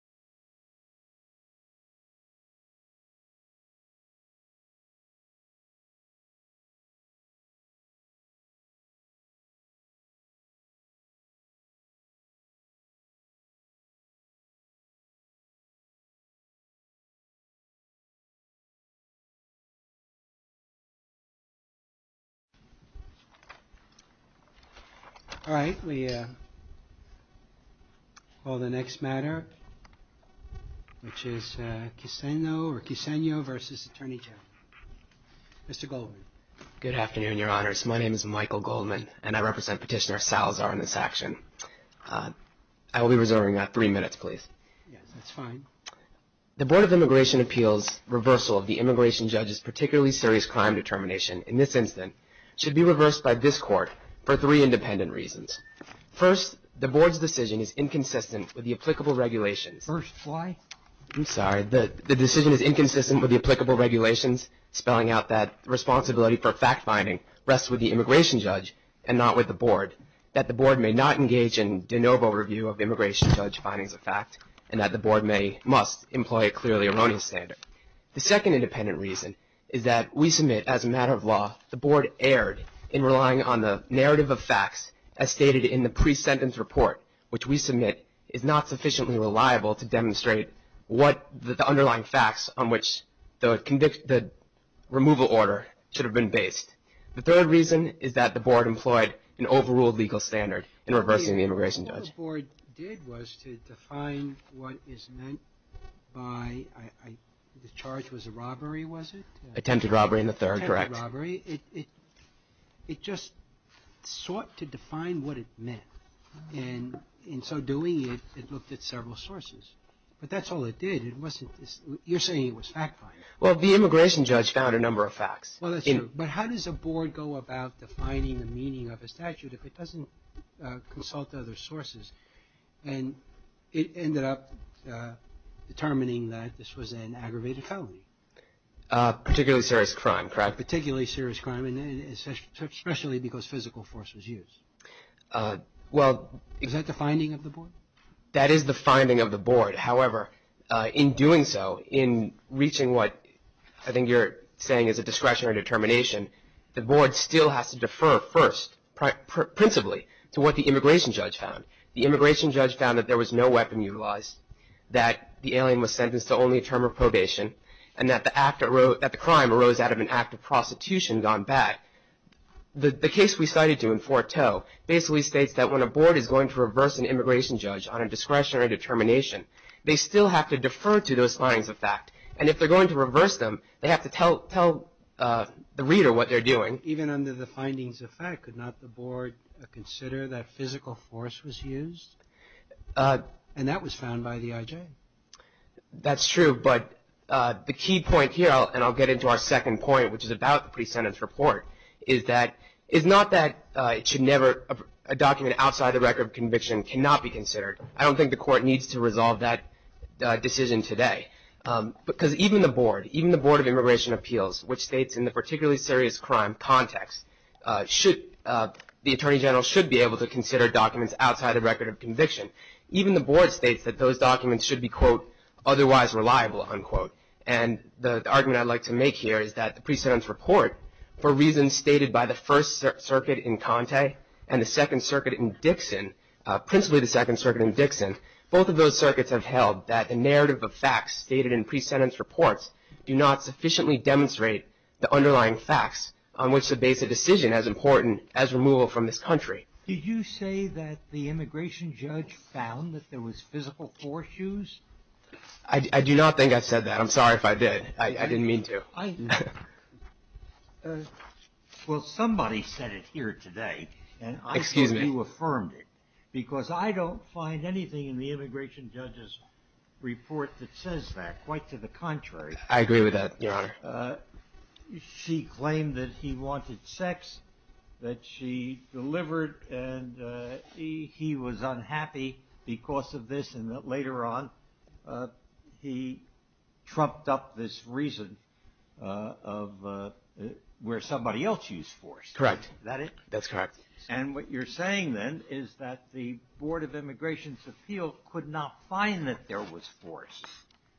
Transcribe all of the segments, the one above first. atty. ganaata.com all right we call the next matter, which is Kisseno or Kisseno v. Attorney General. Mr. Goldman. Good afternoon, your honors. My name is Michael Goldman, and I represent Petitioner Salazar in this action. I will be reserving three minutes, please. Yes, that's fine. The Board of Immigration Appeals' reversal of the immigration judge's particularly serious crime determination, in this instance, should be reversed by this court for three independent reasons. First, the Board's decision is inconsistent with the applicable regulations, spelling out that the responsibility for fact-finding rests with the immigration judge and not with the Board, that the Board may not engage in de novo review of immigration judge findings of fact, and that the Board must employ a clearly erroneous standard. The second independent reason is that we submit, as a matter of law, the Board erred in relying on the narrative of facts as stated in the pre-sentence report, which we submit is not sufficiently reliable to demonstrate what the underlying facts on which the removal order should have been based. The third reason is that the Board employed an overruled legal standard in reversing the immigration judge. What the Board did was to define what is meant by, the charge was a robbery, was it? Attempted robbery in the third, correct. Attempted robbery. It just sought to define what it meant, and in so doing, it looked at several sources, but that's all it did. It wasn't, you're saying it was fact-finding. Well, the immigration judge found a number of facts. Well, that's true, but how does a Board go about defining the meaning of a statute if it doesn't consult other sources, and it ended up determining that this was an aggravated felony? Particularly serious crime, correct? Particularly serious crime, especially because physical force was used. Well, is that the finding of the Board? That is the finding of the Board. However, in doing so, in reaching what I think you're saying is a discretionary determination, the Board still has to defer first, principally, to what the immigration judge found. The immigration judge found that there was no weapon utilized, that the alien was sentenced to only a term of probation, and that the crime arose out of an act of prostitution gone bad. The case we cited to in Forteaux basically states that when a Board is going to reverse an immigration judge on a discretionary determination, they still have to defer to those findings of fact, and if they're going to reverse them, they have to tell the reader what they're doing. Even under the findings of fact, could not the Board consider that physical force was used? And that was found by the IJ. That's true, but the key point here, and I'll get into our second point, which is about the pre-sentence report, is that, it's not that it should never, a document outside the record of conviction cannot be considered. I don't think the Court needs to resolve that decision today. Because even the Board, even the Board of Immigration Appeals, which states in the particularly serious crime context, the Attorney General should be able to consider documents outside the record of conviction. Even the Board states that those documents should be, quote, otherwise reliable, unquote. And the argument I'd like to make here is that the pre-sentence report, for reasons stated by the First Circuit in Conte, and the Second Circuit in Dixon, principally the Second Circuit in Dixon, both of those circuits have held that the narrative of facts stated in pre-sentence reports do not sufficiently demonstrate the underlying facts on which to base a decision as important as removal from this country. Did you say that the immigration judge found that there was physical foreshoes? I do not think I said that. I'm sorry if I did. I didn't mean to. Well, somebody said it here today, and I think you affirmed it, because I don't find anything in the immigration judge's report that says that. Quite to the contrary. I agree with that, Your Honor. She claimed that he wanted sex, that she delivered, and he was unhappy because of this, and that later on, he trumped up this reason of where somebody else used force. Correct. Is that it? That's correct. And what you're saying, then, is that the Board of Immigration's appeal could not find that there was force,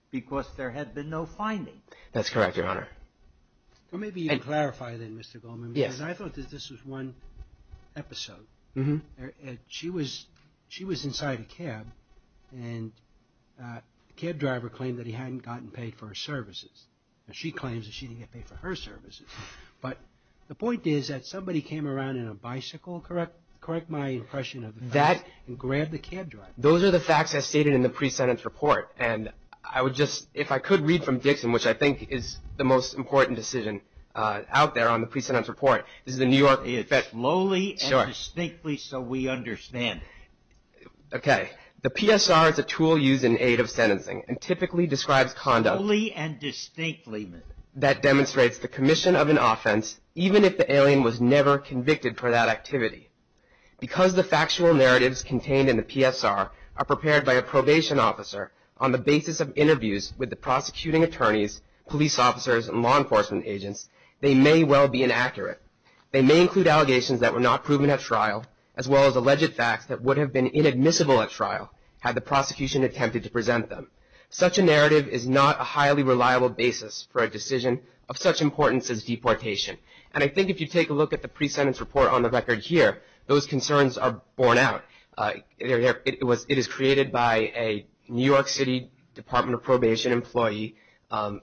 because there had been no finding. That's correct, Your Honor. Well, maybe you can clarify, then, Mr. Goldman, because I thought that this was one episode. She was inside a cab, and the cab driver claimed that he hadn't gotten paid for her services. She claims that she didn't get paid for her services, but the point is that somebody came around in a bicycle, correct my impression of the facts, and grabbed the cab driver. Those are the facts as stated in the pre-sentence report, and I would just, if I could read one from Dixon, which I think is the most important decision out there on the pre-sentence report. This is a New York... Slowly and distinctly so we understand. Okay. The PSR is a tool used in aid of sentencing, and typically describes conduct... Slowly and distinctly. That demonstrates the commission of an offense, even if the alien was never convicted for that activity. Because the factual narratives contained in the PSR are prepared by a probation officer on the basis of interviews with the prosecuting attorneys, police officers, and law enforcement agents, they may well be inaccurate. They may include allegations that were not proven at trial, as well as alleged facts that would have been inadmissible at trial had the prosecution attempted to present them. Such a narrative is not a highly reliable basis for a decision of such importance as deportation, and I think if you take a look at the pre-sentence report on the record here, those concerns are borne out. It is created by a New York City Department of Probation employee,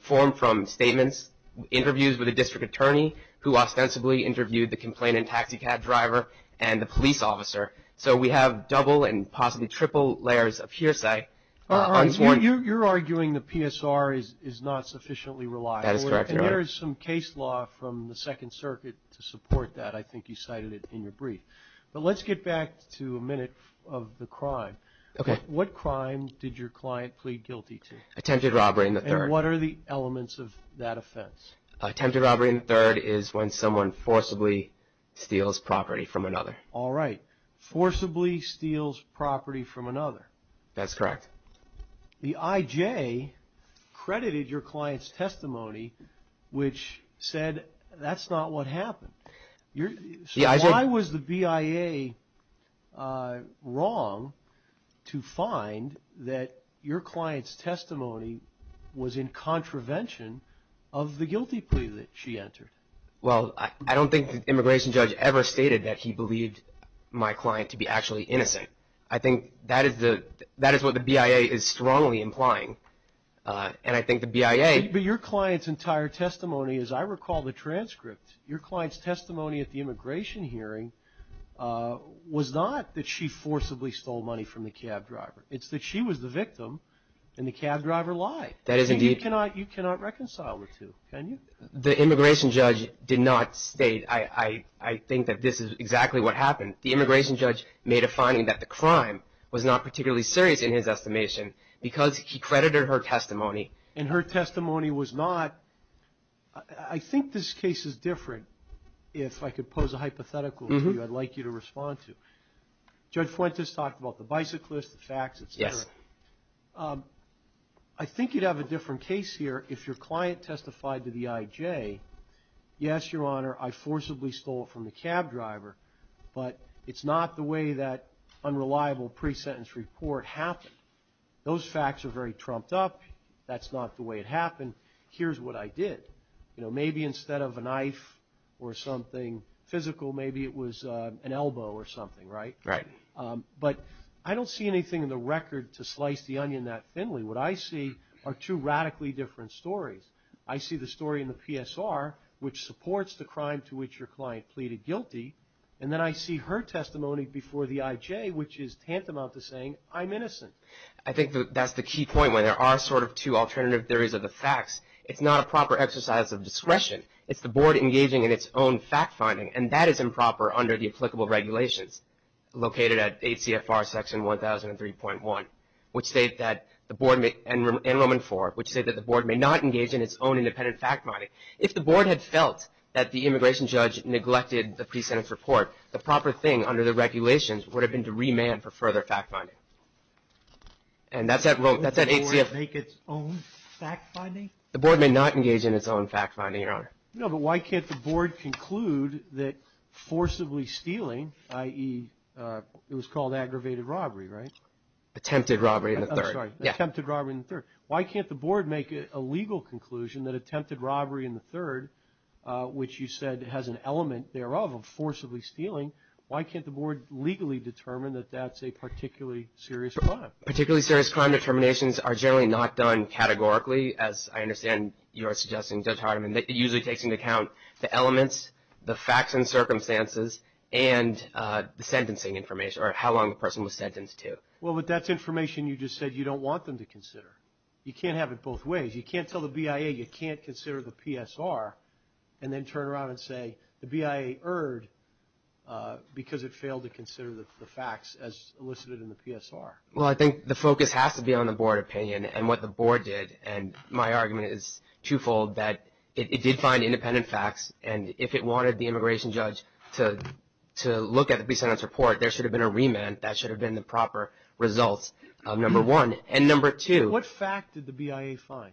formed from statements, interviews with a district attorney, who ostensibly interviewed the complainant taxi cab driver, and the police officer. So we have double and possibly triple layers of hearsay. You're arguing the PSR is not sufficiently reliable. That is correct, Your Honor. And there is some case law from the Second Circuit to support that. I think you cited it in your brief. But let's get back to a minute of the crime. What crime did your client plead guilty to? Attempted robbery in the third. And what are the elements of that offense? Attempted robbery in the third is when someone forcibly steals property from another. All right. Forcibly steals property from another. That's correct. The IJ credited your client's testimony, which said that's not what happened. So why was the BIA wrong to find that your client's testimony was in contravention of the guilty plea that she entered? Well, I don't think the immigration judge ever stated that he believed my client to be actually innocent. I think that is what the BIA is strongly implying. And I think the BIA... But your client's entire testimony, as I recall the transcript, your client's testimony, at the immigration hearing was not that she forcibly stole money from the cab driver. It's that she was the victim and the cab driver lied. That is indeed... You cannot reconcile the two, can you? The immigration judge did not state, I think that this is exactly what happened. The immigration judge made a finding that the crime was not particularly serious in his estimation because he credited her testimony. And her testimony was not... I think this case is different. If I could pose a hypothetical for you, I'd like you to respond to. Judge Fuentes talked about the bicyclist, the facts, et cetera. I think you'd have a different case here if your client testified to the IJ, yes, Your Honor, I forcibly stole from the cab driver, but it's not the way that unreliable pre-sentence report happened. Those facts are very trumped up. That's not the way it happened. Here's what I did. Maybe instead of a knife or something physical, maybe it was an elbow or something, right? But I don't see anything in the record to slice the onion that thinly. What I see are two radically different stories. I see the story in the PSR, which supports the crime to which your client pleaded guilty, and then I see her testimony before the IJ, which is tantamount to saying, I'm innocent. I think that's the key point when there are sort of two alternative theories of the facts. It's not a proper exercise of discretion. It's the board engaging in its own fact-finding, and that is improper under the applicable regulations located at ACFR Section 1003.1 and Roman IV, which state that the board may not engage in its own independent fact-finding. If the board had felt that the immigration judge neglected the pre-sentence report, the And that's at ACFR. Would the board make its own fact-finding? The board may not engage in its own fact-finding, Your Honor. No, but why can't the board conclude that forcibly stealing, i.e., it was called aggravated robbery, right? Attempted robbery in the third. I'm sorry. Yeah. Attempted robbery in the third. Why can't the board make a legal conclusion that attempted robbery in the third, which you said has an element thereof of forcibly stealing, why can't the board legally determine that that's a particularly serious crime? Particularly serious crime determinations are generally not done categorically, as I understand you are suggesting, Judge Hardiman, that it usually takes into account the elements, the facts and circumstances, and the sentencing information, or how long the person was sentenced to. Well, but that's information you just said you don't want them to consider. You can't have it both ways. You can't tell the BIA you can't consider the PSR and then turn around and say the BIA erred because it failed to consider the facts as elicited in the PSR. Well, I think the focus has to be on the board opinion and what the board did, and my argument is twofold, that it did find independent facts, and if it wanted the immigration judge to look at the pre-sentence report, there should have been a remand. That should have been the proper results, number one. And number two... What fact did the BIA find?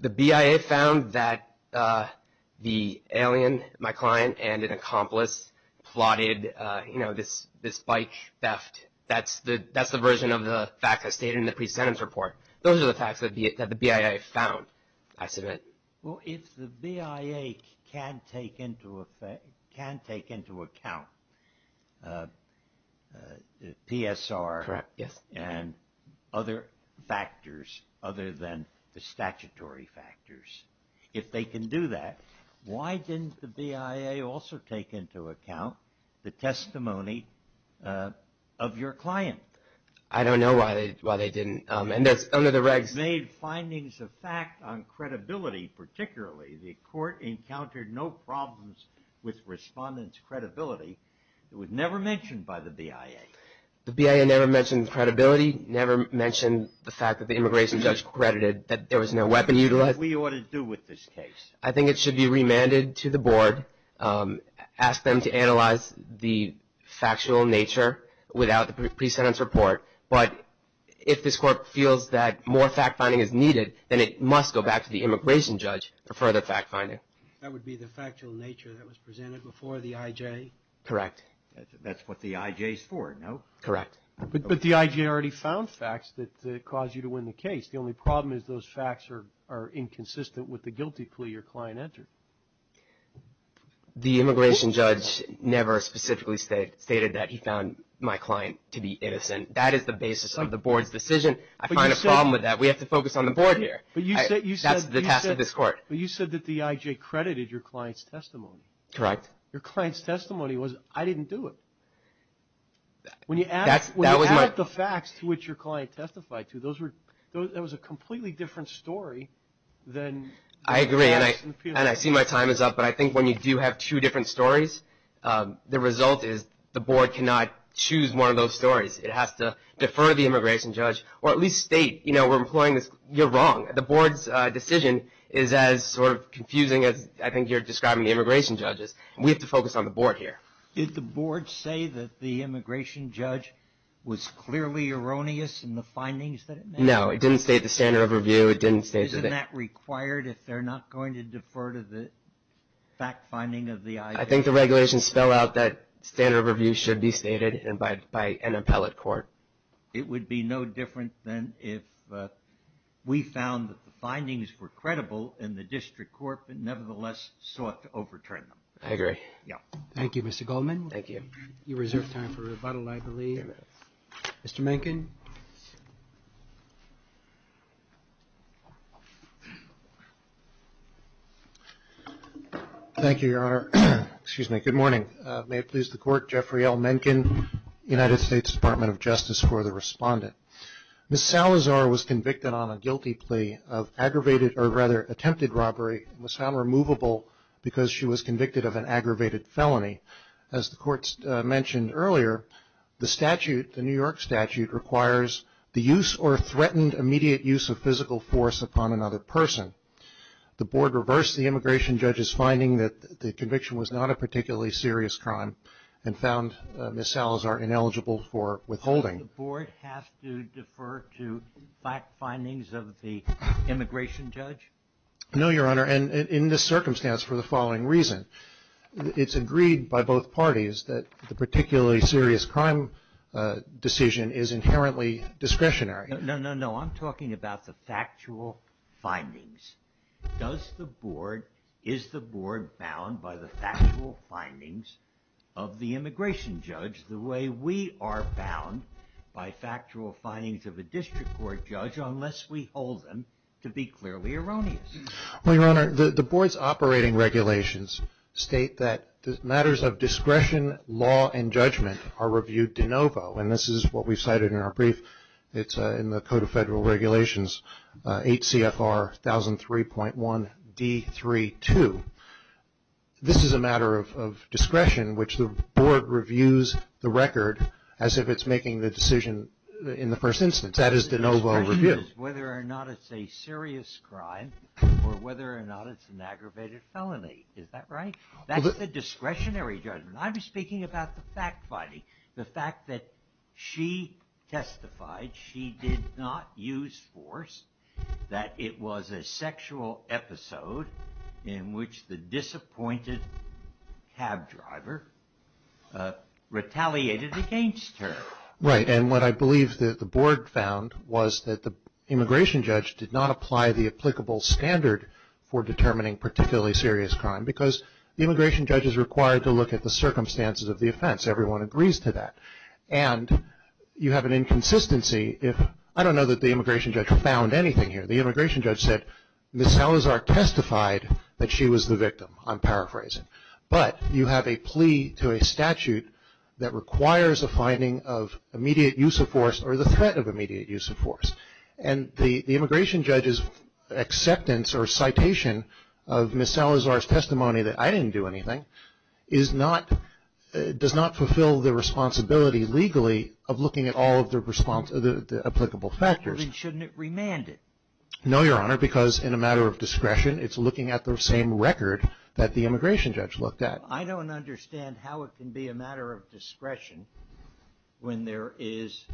The BIA found that the alien, my client, and an accomplice plotted, you know, this bike theft. That's the version of the fact that's stated in the pre-sentence report. Those are the facts that the BIA found, I submit. Well, if the BIA can take into account the PSR and other factors other than the statutory factors, if they can do that, why didn't the BIA also take into account the testimony of your client? I don't know why they didn't. And that's under the regs. They made findings of fact on credibility, particularly. The court encountered no problems with respondents' credibility. It was never mentioned by the BIA. The BIA never mentioned credibility, never mentioned the fact that the immigration judge credited that there was no weapon utilized. What do you want to do with this case? I think it should be remanded to the board, ask them to analyze the factual nature without the pre-sentence report. But if this court feels that more fact-finding is needed, then it must go back to the immigration judge for further fact-finding. That would be the factual nature that was presented before the IJ? Correct. That's what the IJ is for, no? Correct. But the IJ already found facts that cause you to win the case. The only problem is those facts are inconsistent with the guilty plea your client entered. The immigration judge never specifically stated that he found my client to be innocent. That is the basis of the board's decision. I find a problem with that. We have to focus on the board here. That's the task of this court. But you said that the IJ credited your client's testimony. Correct. Your client's testimony was, I didn't do it. When you add the facts to which your client testified to, that was a completely different story than the facts in the penal code. I agree. And I see my time is up, but I think when you do have two different stories, the result is the board cannot choose one of those stories. It has to defer to the immigration judge or at least state, you know, we're employing this. You're wrong. The board's decision is as sort of confusing as I think you're describing the immigration judge is. We have to focus on the board here. Did the board say that the immigration judge was clearly erroneous in the findings that it made? No, it didn't state the standard of review. It didn't state that. Is that required if they're not going to defer to the fact finding of the IJ? I think the regulations spell out that standard of review should be stated and by an appellate court. It would be no different than if we found that the findings were credible and the district court nevertheless sought to overturn them. I agree. Yeah. Thank you, Mr. Goldman. Thank you. You reserve time for rebuttal, I believe. Mr. Mencken. Thank you, Your Honor. Excuse me. Good morning. May it please the court, Jeffrey L. Mencken, United States Department of Justice for the respondent. Ms. Salazar was convicted on a guilty plea of aggravated or rather attempted robbery and was found removable because she was convicted of an aggravated felony. As the court mentioned earlier, the statute, the New York statute, requires the use or threatened immediate use of physical force upon another person. The board reversed the immigration judge's finding that the conviction was not a particularly serious crime and found Ms. Salazar ineligible for withholding. Does the board have to defer to fact findings of the immigration judge? No, Your Honor, and in this circumstance for the following reason. It's agreed by both parties that the particularly serious crime decision is inherently discretionary. No, no, no. I'm talking about the factual findings. Does the board, is the board bound by the factual findings of the immigration judge the way we are bound by factual findings of a district court judge unless we hold them to be clearly erroneous? Well, Your Honor, the board's operating regulations state that matters of discretion, law, and judgment are reviewed de novo, and this is what we cited in our brief. It's in the Code of Federal Regulations 8 CFR 1003.1 D32. This is a matter of discretion, which the board reviews the record as if it's making the decision in the first instance. That is de novo review. The question is whether or not it's a serious crime or whether or not it's an aggravated felony. Is that right? That's the discretionary judgment. I'm speaking about the fact finding, the fact that she testified, she did not use force, that it was a sexual episode in which the disappointed cab driver retaliated against her. Right, and what I believe that the board found was that the immigration judge did not apply the applicable standard for determining particularly serious crime because the immigration judge is required to look at the circumstances of the offense. Everyone agrees to that, and you have an inconsistency if, I don't know that the immigration judge found anything here. The immigration judge said, Ms. Salazar testified that she was the victim, I'm paraphrasing, but you have a plea to a statute that requires a finding of immediate use of force or the threat of immediate use of force, and the immigration judge's acceptance or citation of Ms. Salazar's testimony that I didn't do anything does not fulfill the responsibility legally of looking at all of the applicable factors. Then shouldn't it remand it? No, Your Honor, because in a matter of discretion, it's looking at the same record that the immigration judge looked at. I don't understand how it can be a matter of discretion when there is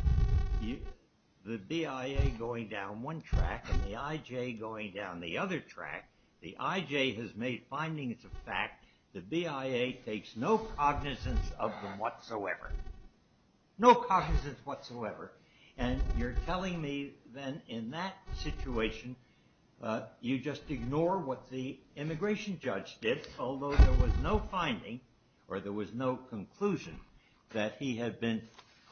the BIA going down one track and the IJ going down the other track. The IJ has made findings of fact, the BIA takes no cognizance of them whatsoever. No cognizance whatsoever, and you're telling me then in that situation, you just ignore what the immigration judge did, although there was no finding, or there was no conclusion, that he had been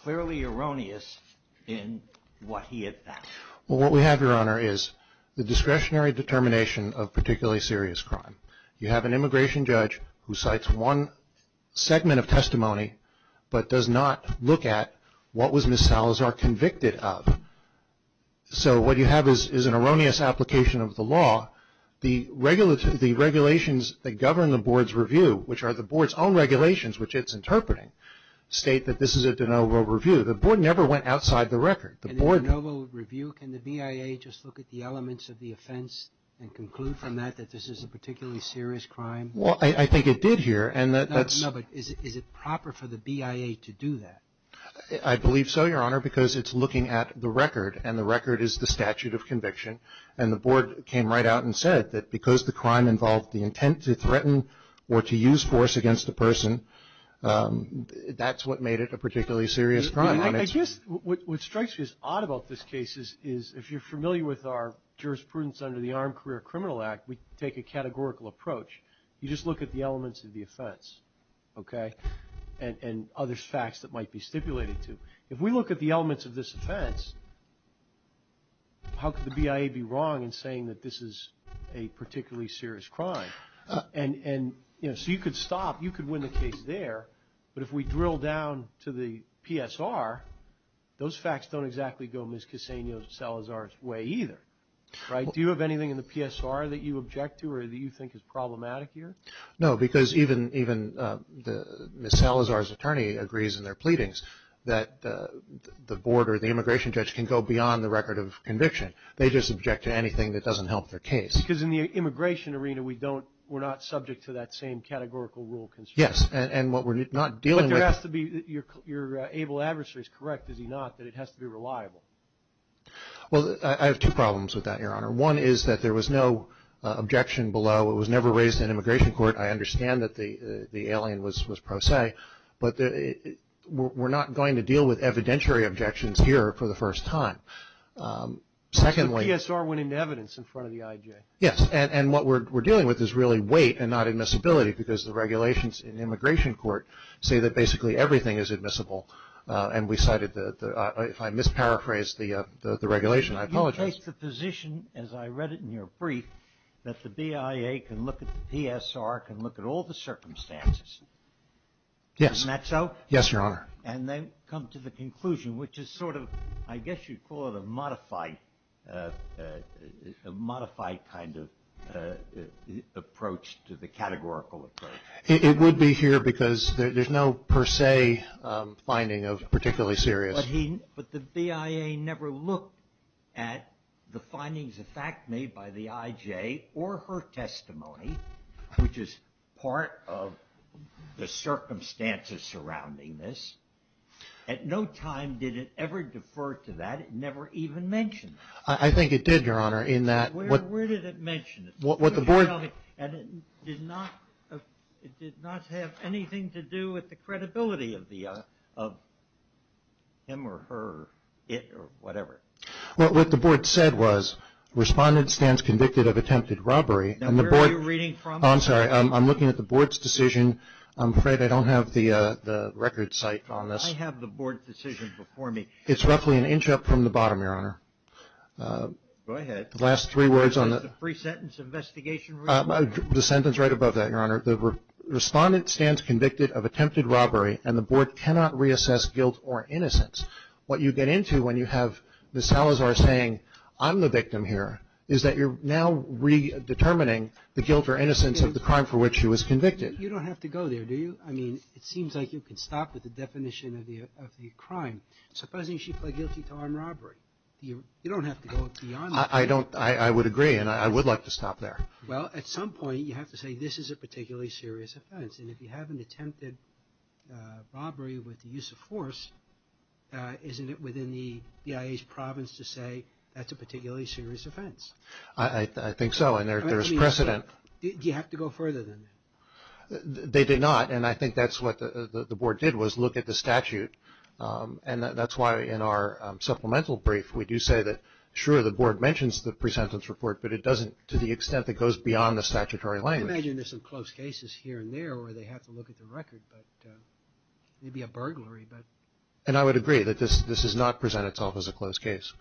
clearly erroneous in what he had found. Well, what we have, Your Honor, is the discretionary determination of particularly serious crime. You have an immigration judge who cites one segment of testimony, but does not look at what was Ms. Salazar convicted of. So, what you have is an erroneous application of the law. The regulations that govern the Board's review, which are the Board's own regulations, which it's interpreting, state that this is a de novo review. The Board never went outside the record. In a de novo review, can the BIA just look at the elements of the offense and conclude from that that this is a particularly serious crime? Well, I think it did here. No, but is it proper for the BIA to do that? I believe so, Your Honor, because it's looking at the record, and the record is the statute of conviction, and the Board came right out and said that because the crime involved the intent to threaten or to use force against a person, that's what made it a particularly serious crime. I guess what strikes me as odd about this case is, if you're familiar with our jurisprudence under the Armed Career Criminal Act, we take a categorical approach. You just look at the elements of the offense, okay, and other facts that might be stipulated to. If we look at the elements of this offense, how could the BIA be wrong in saying that this is a particularly serious crime? And, you know, so you could stop. You could win the case there, but if we drill down to the PSR, those facts don't exactly go Ms. Cassano-Salazar's way either, right? Do you have anything in the PSR that you object to or that you think is problematic here? No, because even Ms. Salazar's attorney agrees in their pleadings that the Board or the immigration judge can go beyond the record of conviction. They just object to anything that doesn't help their case. Because in the immigration arena, we don't, we're not subject to that same categorical rule constraint. Yes, and what we're not dealing with- But there has to be, your able adversary is correct, is he not, that it has to be reliable? Well, I have two problems with that, your honor. One is that there was no objection below. It was never raised in immigration court. I understand that the alien was pro se, but we're not going to deal with evidentiary objections here for the first time. Secondly- The PSR went into evidence in front of the IJ. Yes, and what we're dealing with is really weight and not admissibility because the regulations in immigration court say that basically everything is admissible. And we cited the, if I misparaphrased the regulation, I apologize. You take the position, as I read it in your brief, that the BIA can look at the PSR, can look at all the circumstances. Yes. Isn't that so? Yes, your honor. And then come to the conclusion, which is sort of, I guess you'd call it a modified kind of approach to the categorical approach. It would be here because there's no per se finding of particularly serious. But the BIA never looked at the findings of fact made by the IJ or her testimony, which is part of the circumstances surrounding this. At no time did it ever defer to that. It never even mentioned it. I think it did, your honor, in that- Where did it mention it? What the board- And it did not have anything to do with the credibility of him or her, it or whatever. Well, what the board said was, respondent stands convicted of attempted robbery and the board- Now, where are you reading from? Oh, I'm sorry. I'm looking at the board's decision. I'm afraid I don't have the record site on this. I have the board's decision before me. It's roughly an inch up from the bottom, your honor. Go ahead. Last three words on the- Is that a free sentence, investigation- The sentence right above that, your honor. The respondent stands convicted of attempted robbery and the board cannot reassess guilt or innocence. What you get into when you have Ms. Salazar saying, I'm the victim here, is that you're now redetermining the guilt or innocence of the crime for which she was convicted. You don't have to go there, do you? I mean, it seems like you can stop at the definition of the crime. Supposing she pled guilty to armed robbery, you don't have to go beyond that. I don't. I would agree and I would like to stop there. Well, at some point, you have to say this is a particularly serious offense and if you have an attempted robbery with the use of force, isn't it within the BIA's province to say that's a particularly serious offense? I think so and there's precedent. Do you have to go further than that? They did not and I think that's what the board did was look at the statute and that's why in our supplemental brief, we do say that sure, the board mentions the presentence report but it doesn't to the extent that it goes beyond the statutory language. I imagine there's some close cases here and there where they have to look at the record but maybe a burglary. And I would agree that this does not present itself as a close case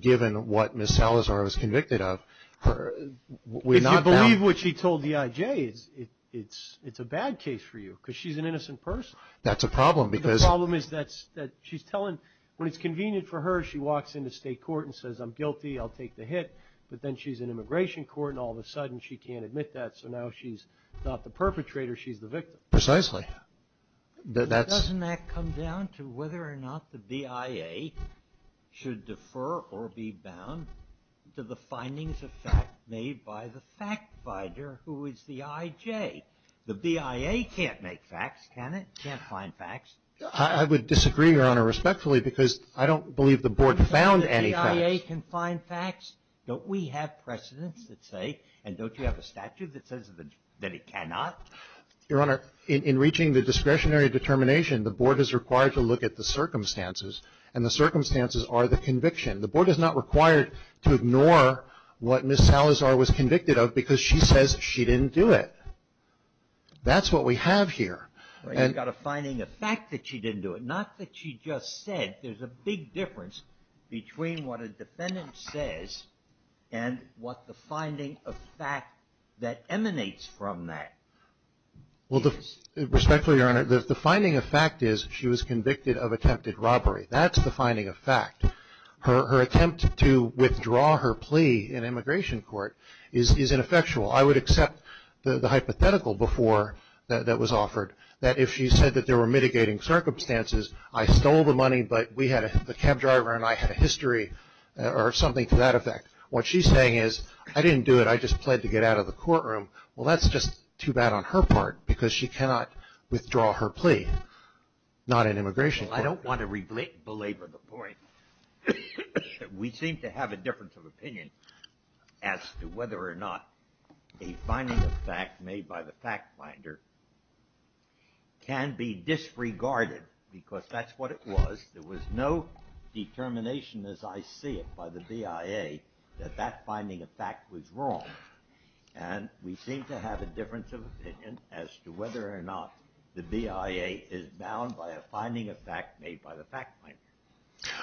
given what Ms. Salazar was convicted of. If you believe what she told the IJ, it's a bad case for you because she's an innocent person. That's a problem because The problem is that she's telling, when it's convenient for her, she walks into state court and says I'm guilty, I'll take the hit but then she's in immigration court and all of a sudden she can't admit that so now she's not the perpetrator, she's the victim. Precisely. Doesn't that come down to whether or not the BIA should defer or be bound to the findings of fact made by the fact finder who is the IJ? The BIA can't make facts, can it? Can't find facts. I would disagree, Your Honor, respectfully because I don't believe the board found any facts. Can't the BIA find facts? Don't we have precedents that say and don't you have a statute that says that it cannot? Your Honor, in reaching the discretionary determination, the board is required to look at the circumstances and the circumstances are the conviction. The board is not required to ignore what Ms. Salazar was convicted of because she says she didn't do it. That's what we have here. You've got a finding of fact that she didn't do it, not that she just said. There's a big difference between what a defendant says and what the finding of fact that emanates from that is. Well, respectfully, Your Honor, the finding of fact is she was convicted of attempted robbery. That's the finding of fact. Her attempt to withdraw her plea in immigration court is ineffectual. I would accept the hypothetical before that was offered, that if she said that there were mitigating circumstances, I stole the money, but the cab driver and I had a history or something to that effect, what she's saying is, I didn't do it, I just pled to get out of the courtroom. Well, that's just too bad on her part because she cannot withdraw her plea, not in immigration court. I don't want to belabor the point. We seem to have a difference of opinion as to whether or not a finding of fact made by the fact finder can be disregarded because that's what it was. There was no determination as I see it by the BIA that that finding of fact was wrong. And we seem to have a difference of opinion as to whether or not the BIA is bound by a finding of fact made by the fact finder.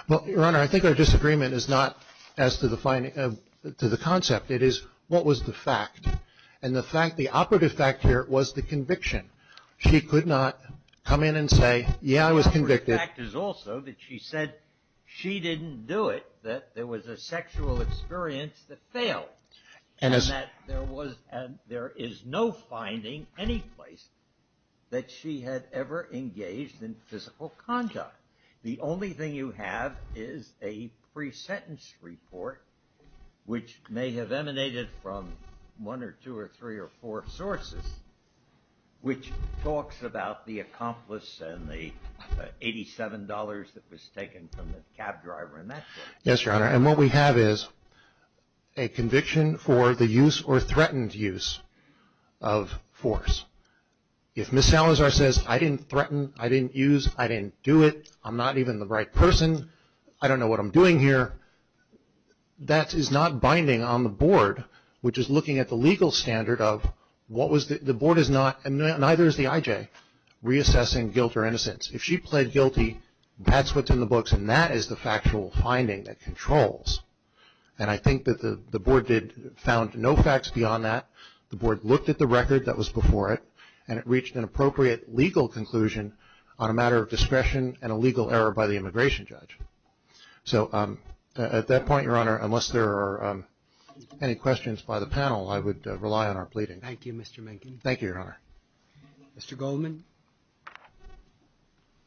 Well, Your Honor, I think our disagreement is not as to the concept. It is what was the fact. And the fact, the operative fact here was the conviction. She could not come in and say, yeah, I was convicted. The fact is also that she said she didn't do it, that there was a sexual experience that failed. And that there is no finding any place that she had ever engaged in physical contact. The only thing you have is a pre-sentence report, which may have emanated from one or two or three or four sources, which talks about the accomplice and the $87 that was taken from the cab driver and that sort of thing. Yes, Your Honor. And what we have is a conviction for the use or threatened use of force. If Ms. Salazar says, I didn't threaten, I didn't use, I didn't do it, I'm not even the right person, I don't know what I'm doing here, that is not binding on the board, which is looking at the legal standard of what was the board is not and neither is the IJ reassessing guilt or innocence. If she pled guilty, that's what's in the books and that is the factual finding that controls. And I think that the board did, found no facts beyond that. The board looked at the record that was before it and it reached an appropriate legal conclusion on a matter of discretion and a legal error by the immigration judge. So at that point, Your Honor, unless there are any questions by the panel, I would rely on our pleading. Thank you, Mr. Menken. Thank you, Your Honor. Mr. Goldman.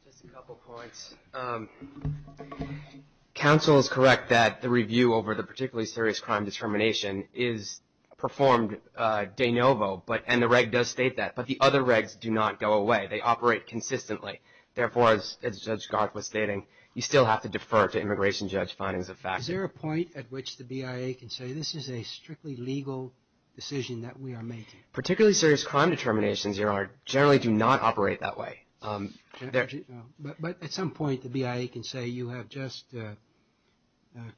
Just a couple of points. Counsel is correct that the review over the particularly serious crime determination is performed de novo, but, and the reg does state that, but the other regs do not go away. They operate consistently. Therefore, as Judge Garth was stating, you still have to defer to immigration judge findings of facts. Is there a point at which the BIA can say this is a strictly legal decision that we are making? Particularly serious crime determinations, Your Honor, generally do not operate that way. But at some point, the BIA can say you have just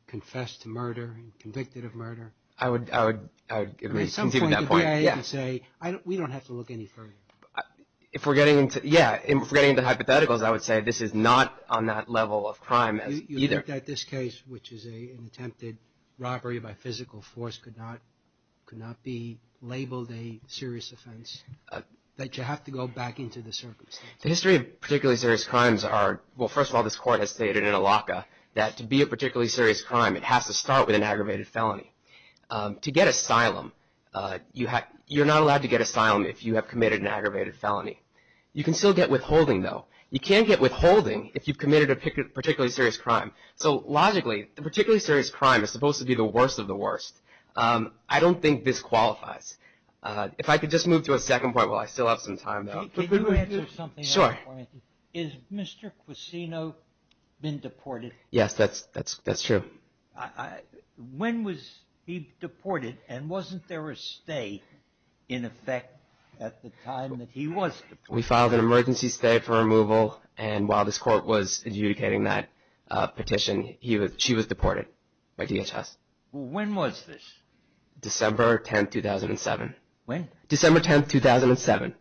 confessed to murder and convicted of murder. I would, I would agree. At some point, the BIA can say, we don't have to look any further. If we're getting into, yeah, if we're getting into hypotheticals, I would say this is not on that level of crime as either. You looked at this case, which is an attempted robbery by physical force, could not, could not be a particularly serious offense, that you have to go back into the circumstances. The history of particularly serious crimes are, well, first of all, this court has stated in a LACA that to be a particularly serious crime, it has to start with an aggravated felony. To get asylum, you have, you're not allowed to get asylum if you have committed an aggravated felony. You can still get withholding though. You can't get withholding if you've committed a particularly serious crime. So logically, the particularly serious crime is supposed to be the worst of the worst. I don't think this qualifies. If I could just move to a second point while I still have some time, though. Can you answer something? Sure. Is Mr. Quasino been deported? Yes, that's, that's, that's true. When was he deported and wasn't there a stay in effect at the time that he was deported? We filed an emergency stay for removal and while this court was adjudicating that petition, he was, she was deported by DHS. When was this? December 10th, 2007. When? December 10th, 2007.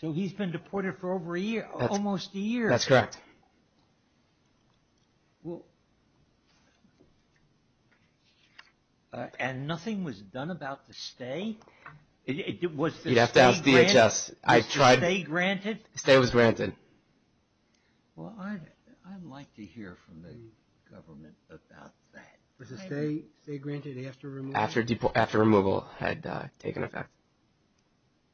So he's been deported for over a year, almost a year. That's correct. Well, and nothing was done about the stay? Was the stay granted? You'd have to ask DHS. I tried. Was the stay granted? The stay was granted. Well, I'd like to hear from the government about that. Was the stay granted after removal? After removal had taken effect.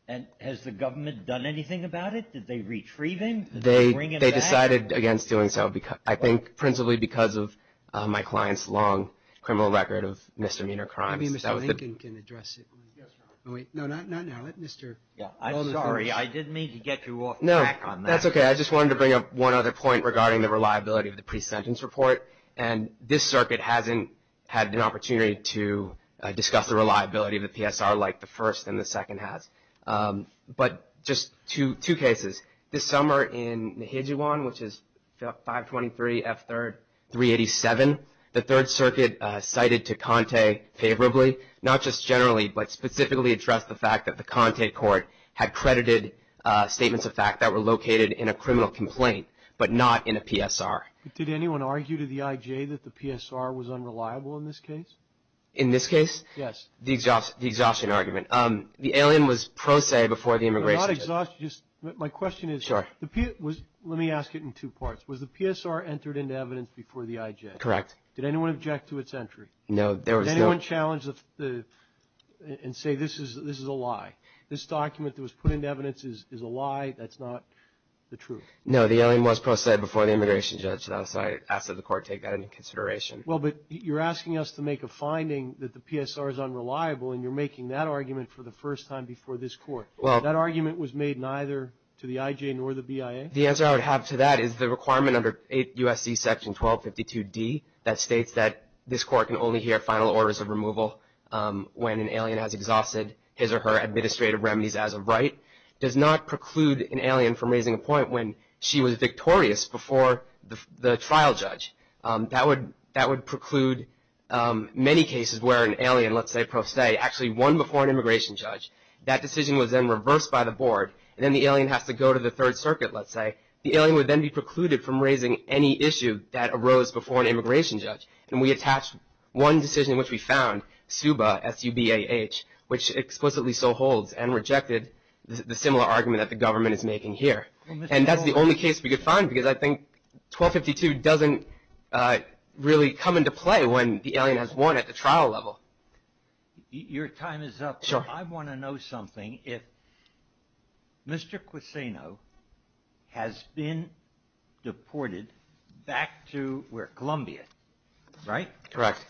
And has the government done anything about it? Did they retrieve him? Did they bring him back? They decided against doing so, I think principally because of my client's long criminal record of misdemeanor crimes. Maybe Mr. Lincoln can address it. Yes, Your Honor. No, wait. No, not now. Let Mr. Alderson. Yeah, I'm sorry. I didn't mean to get you off track on that. No, that's okay. I just wanted to bring up one other point regarding the reliability of the pre-sentence report. And this circuit hasn't had an opportunity to discuss the reliability of the PSR like the first and the second has. But just two cases. This summer in Nijijiwan, which is 523 F3-387, the Third Circuit cited to Conte favorably, not just generally, but specifically addressed the fact that the Conte court had credited statements of fact that were located in a criminal complaint, but not in a PSR. Did anyone argue to the IJ that the PSR was unreliable in this case? In this case? Yes. The exhaustion argument. The alien was pro se before the immigration judge. My question is, let me ask it in two parts. Was the PSR entered into evidence before the IJ? Correct. Did anyone object to its entry? No. Did anyone challenge and say this is a lie? This document that was put into evidence is a lie, that's not the truth? No, the alien was pro se before the immigration judge, so I ask that the court take that into consideration. Well, but you're asking us to make a finding that the PSR is unreliable and you're making that argument for the first time before this court. That argument was made neither to the IJ nor the BIA? The answer I would have to that is the requirement under 8 U.S.C. section 1252D that states that this court can only hear final orders of removal when an alien has exhausted his or her administrative She was victorious before the trial judge. That would preclude many cases where an alien, let's say pro se, actually won before an immigration judge. That decision was then reversed by the board, and then the alien has to go to the Third Circuit, let's say. The alien would then be precluded from raising any issue that arose before an immigration judge. And we attached one decision which we found, SUBA, S-U-B-A-H, which explicitly so holds and rejected the similar argument that the government is making here. And that's the only case we could find because I think 1252 doesn't really come into play when the alien has won at the trial level. Your time is up. Sure. I want to know something. If Mr. Queseno has been deported back to, we're at Columbia, right? Correct.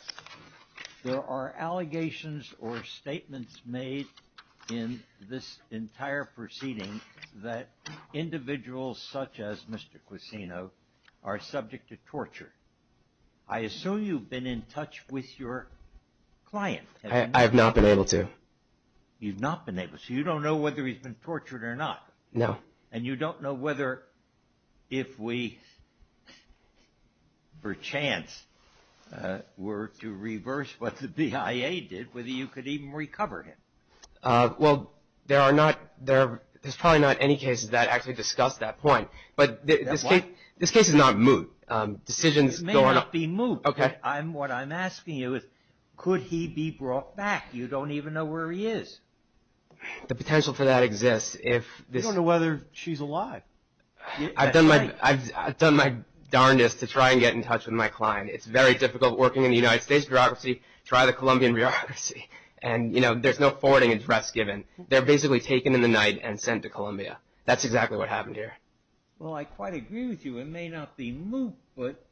There are allegations or statements made in this entire proceeding that individuals such as Mr. Queseno are subject to torture. I assume you've been in touch with your client. I have not been able to. You've not been able to. So you don't know whether he's been tortured or not. No. And you don't know whether if we, perchance, were to reverse what the BIA did, whether you could even recover him. Well, there are not, there's probably not any cases that actually discuss that point. But this case is not moot. Decisions go on. It may not be moot. Okay. What I'm asking you is, could he be brought back? You don't even know where he is. The potential for that exists. You don't know whether she's alive. I've done my darndest to try and get in touch with my client. It's very difficult working in the United States bureaucracy. Try the Colombian bureaucracy. And you know, there's no forwarding address given. They're basically taken in the night and sent to Columbia. That's exactly what happened here. Well, I quite agree with you. It may not be moot, but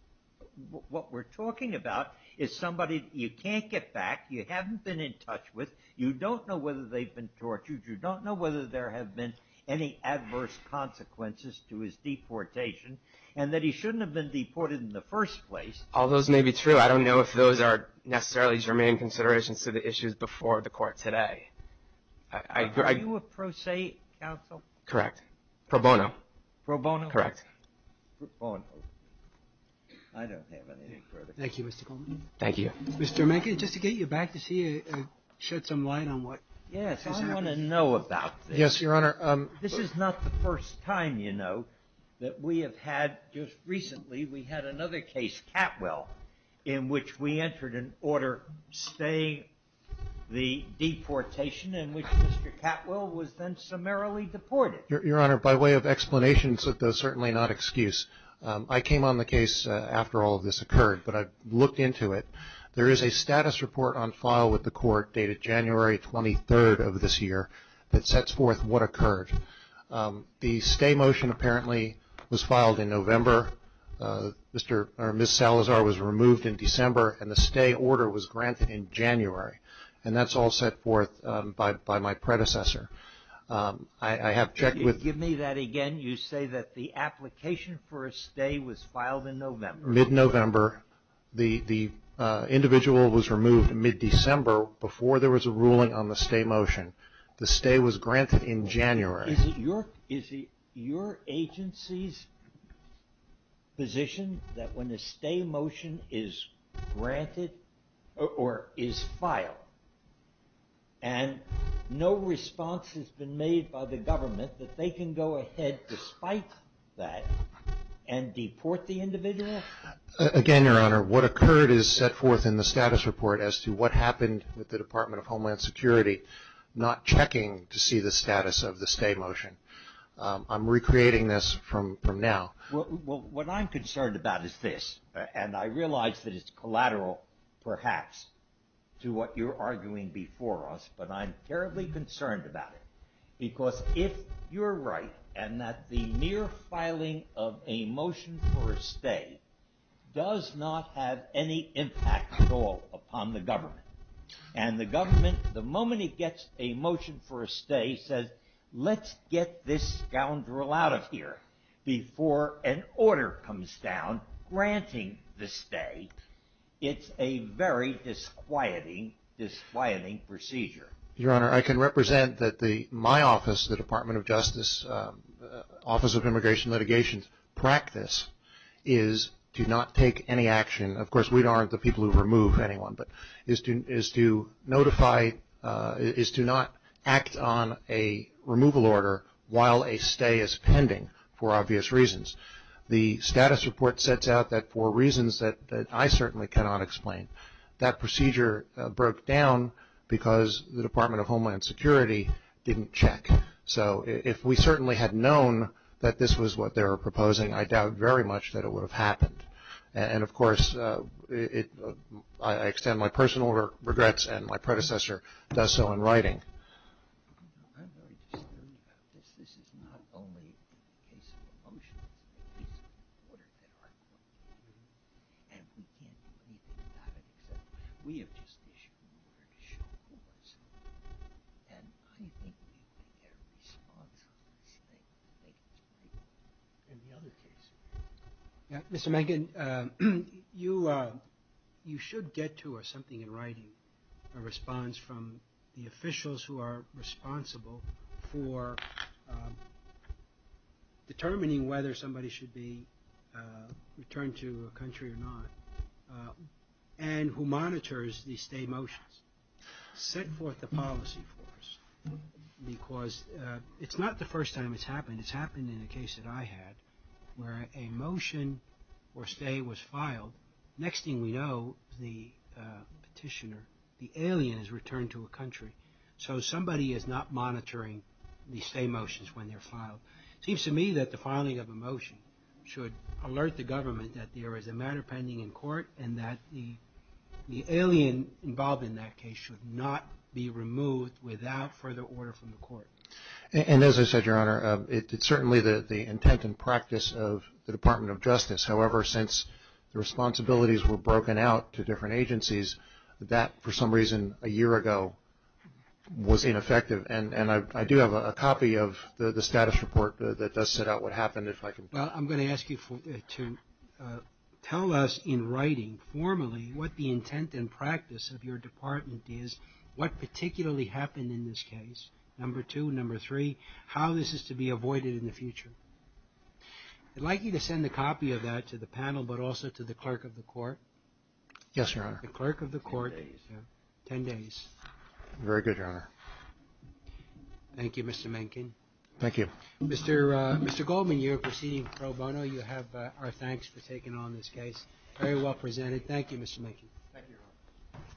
what we're talking about is somebody you can't get back, you haven't been in touch with, you don't know whether they've been tortured, you don't know whether there have been any adverse consequences to his deportation, and that he shouldn't have been deported in the first place. All those may be true. I don't know if those are necessarily germane considerations to the issues before the Court today. Are you a pro se counsel? Correct. Pro bono. Pro bono? Correct. Pro bono. I don't have any credit. Thank you, Mr. Goldman. Thank you. Mr. Rameca, just to get you back to see if you shed some light on what has happened. Yes. I want to know about this. Yes, Your Honor. This is not the first time, you know, that we have had, just recently, we had another case, Catwell, in which we entered an order saying the deportation in which Mr. Catwell was then summarily deported. Your Honor, by way of explanation, certainly not excuse, I came on the case after all of this occurred, but I looked into it. There is a status report on file with the Court dated January 23rd of this year that sets forth what occurred. The stay motion, apparently, was filed in November. Ms. Salazar was removed in December, and the stay order was granted in January, and that's all set forth by my predecessor. I have checked with- Can you give me that again? You say that the application for a stay was filed in November. Mid-November. The individual was removed mid-December before there was a ruling on the stay motion. The stay was granted in January. Is it your agency's position that when a stay motion is granted or is filed, and no response has been made by the government, that they can go ahead, despite that, and deport the individual? Again, Your Honor, what occurred is set forth in the status report as to what happened with I'm not checking to see the status of the stay motion. I'm recreating this from now. What I'm concerned about is this, and I realize that it's collateral, perhaps, to what you're arguing before us, but I'm terribly concerned about it, because if you're right and that the mere filing of a motion for a stay does not have any impact at all upon the government, and the government, the moment it gets a motion for a stay, says, let's get this scoundrel out of here before an order comes down granting the stay, it's a very disquieting procedure. Your Honor, I can represent that my office, the Department of Justice, Office of Immigration Litigation's practice is to not take any action. Of course, we aren't the people who remove anyone, but is to notify, is to not act on a removal order while a stay is pending for obvious reasons. The status report sets out that for reasons that I certainly cannot explain, that procedure broke down because the Department of Homeland Security didn't check. So if we certainly had known that this was what they were proposing, I doubt very much that it would have happened. And of course, I extend my personal regrets, and my predecessor does so in writing. I'm very dismayed about this. This is not only a case of a motion, it's a case of an order that I'm going to do. And we can't do anything about it, except we have just issued an order to show who I serve. And I think we need to get a response on this thing to make it right. In the other case... Mr. Megan, you should get to, or something in writing, a response from the officials who are responsible for determining whether somebody should be returned to a country or not, and who monitors the stay motions. Send forth the policy, of course, because it's not the first time it's happened. And it's happened in a case that I had, where a motion or stay was filed. Next thing we know, the petitioner, the alien is returned to a country. So somebody is not monitoring the stay motions when they're filed. Seems to me that the filing of a motion should alert the government that there is a matter pending in court, and that the alien involved in that case should not be removed without further order from the court. And as I said, Your Honor, it's certainly the intent and practice of the Department of Justice. However, since the responsibilities were broken out to different agencies, that for some reason a year ago was ineffective. And I do have a copy of the status report that does set out what happened, if I can... Well, I'm going to ask you to tell us in writing, formally, what the intent and practice of your department is, what particularly happened in this case. Number two, number three, how this is to be avoided in the future. I'd like you to send a copy of that to the panel, but also to the clerk of the court. Yes, Your Honor. The clerk of the court. Ten days. Ten days. Very good, Your Honor. Thank you, Mr. Mencken. Thank you. Mr. Goldman, you're proceeding pro bono. You have our thanks for taking on this case. Very well presented. Thank you, Mr. Mencken. Thank you, Your Honor.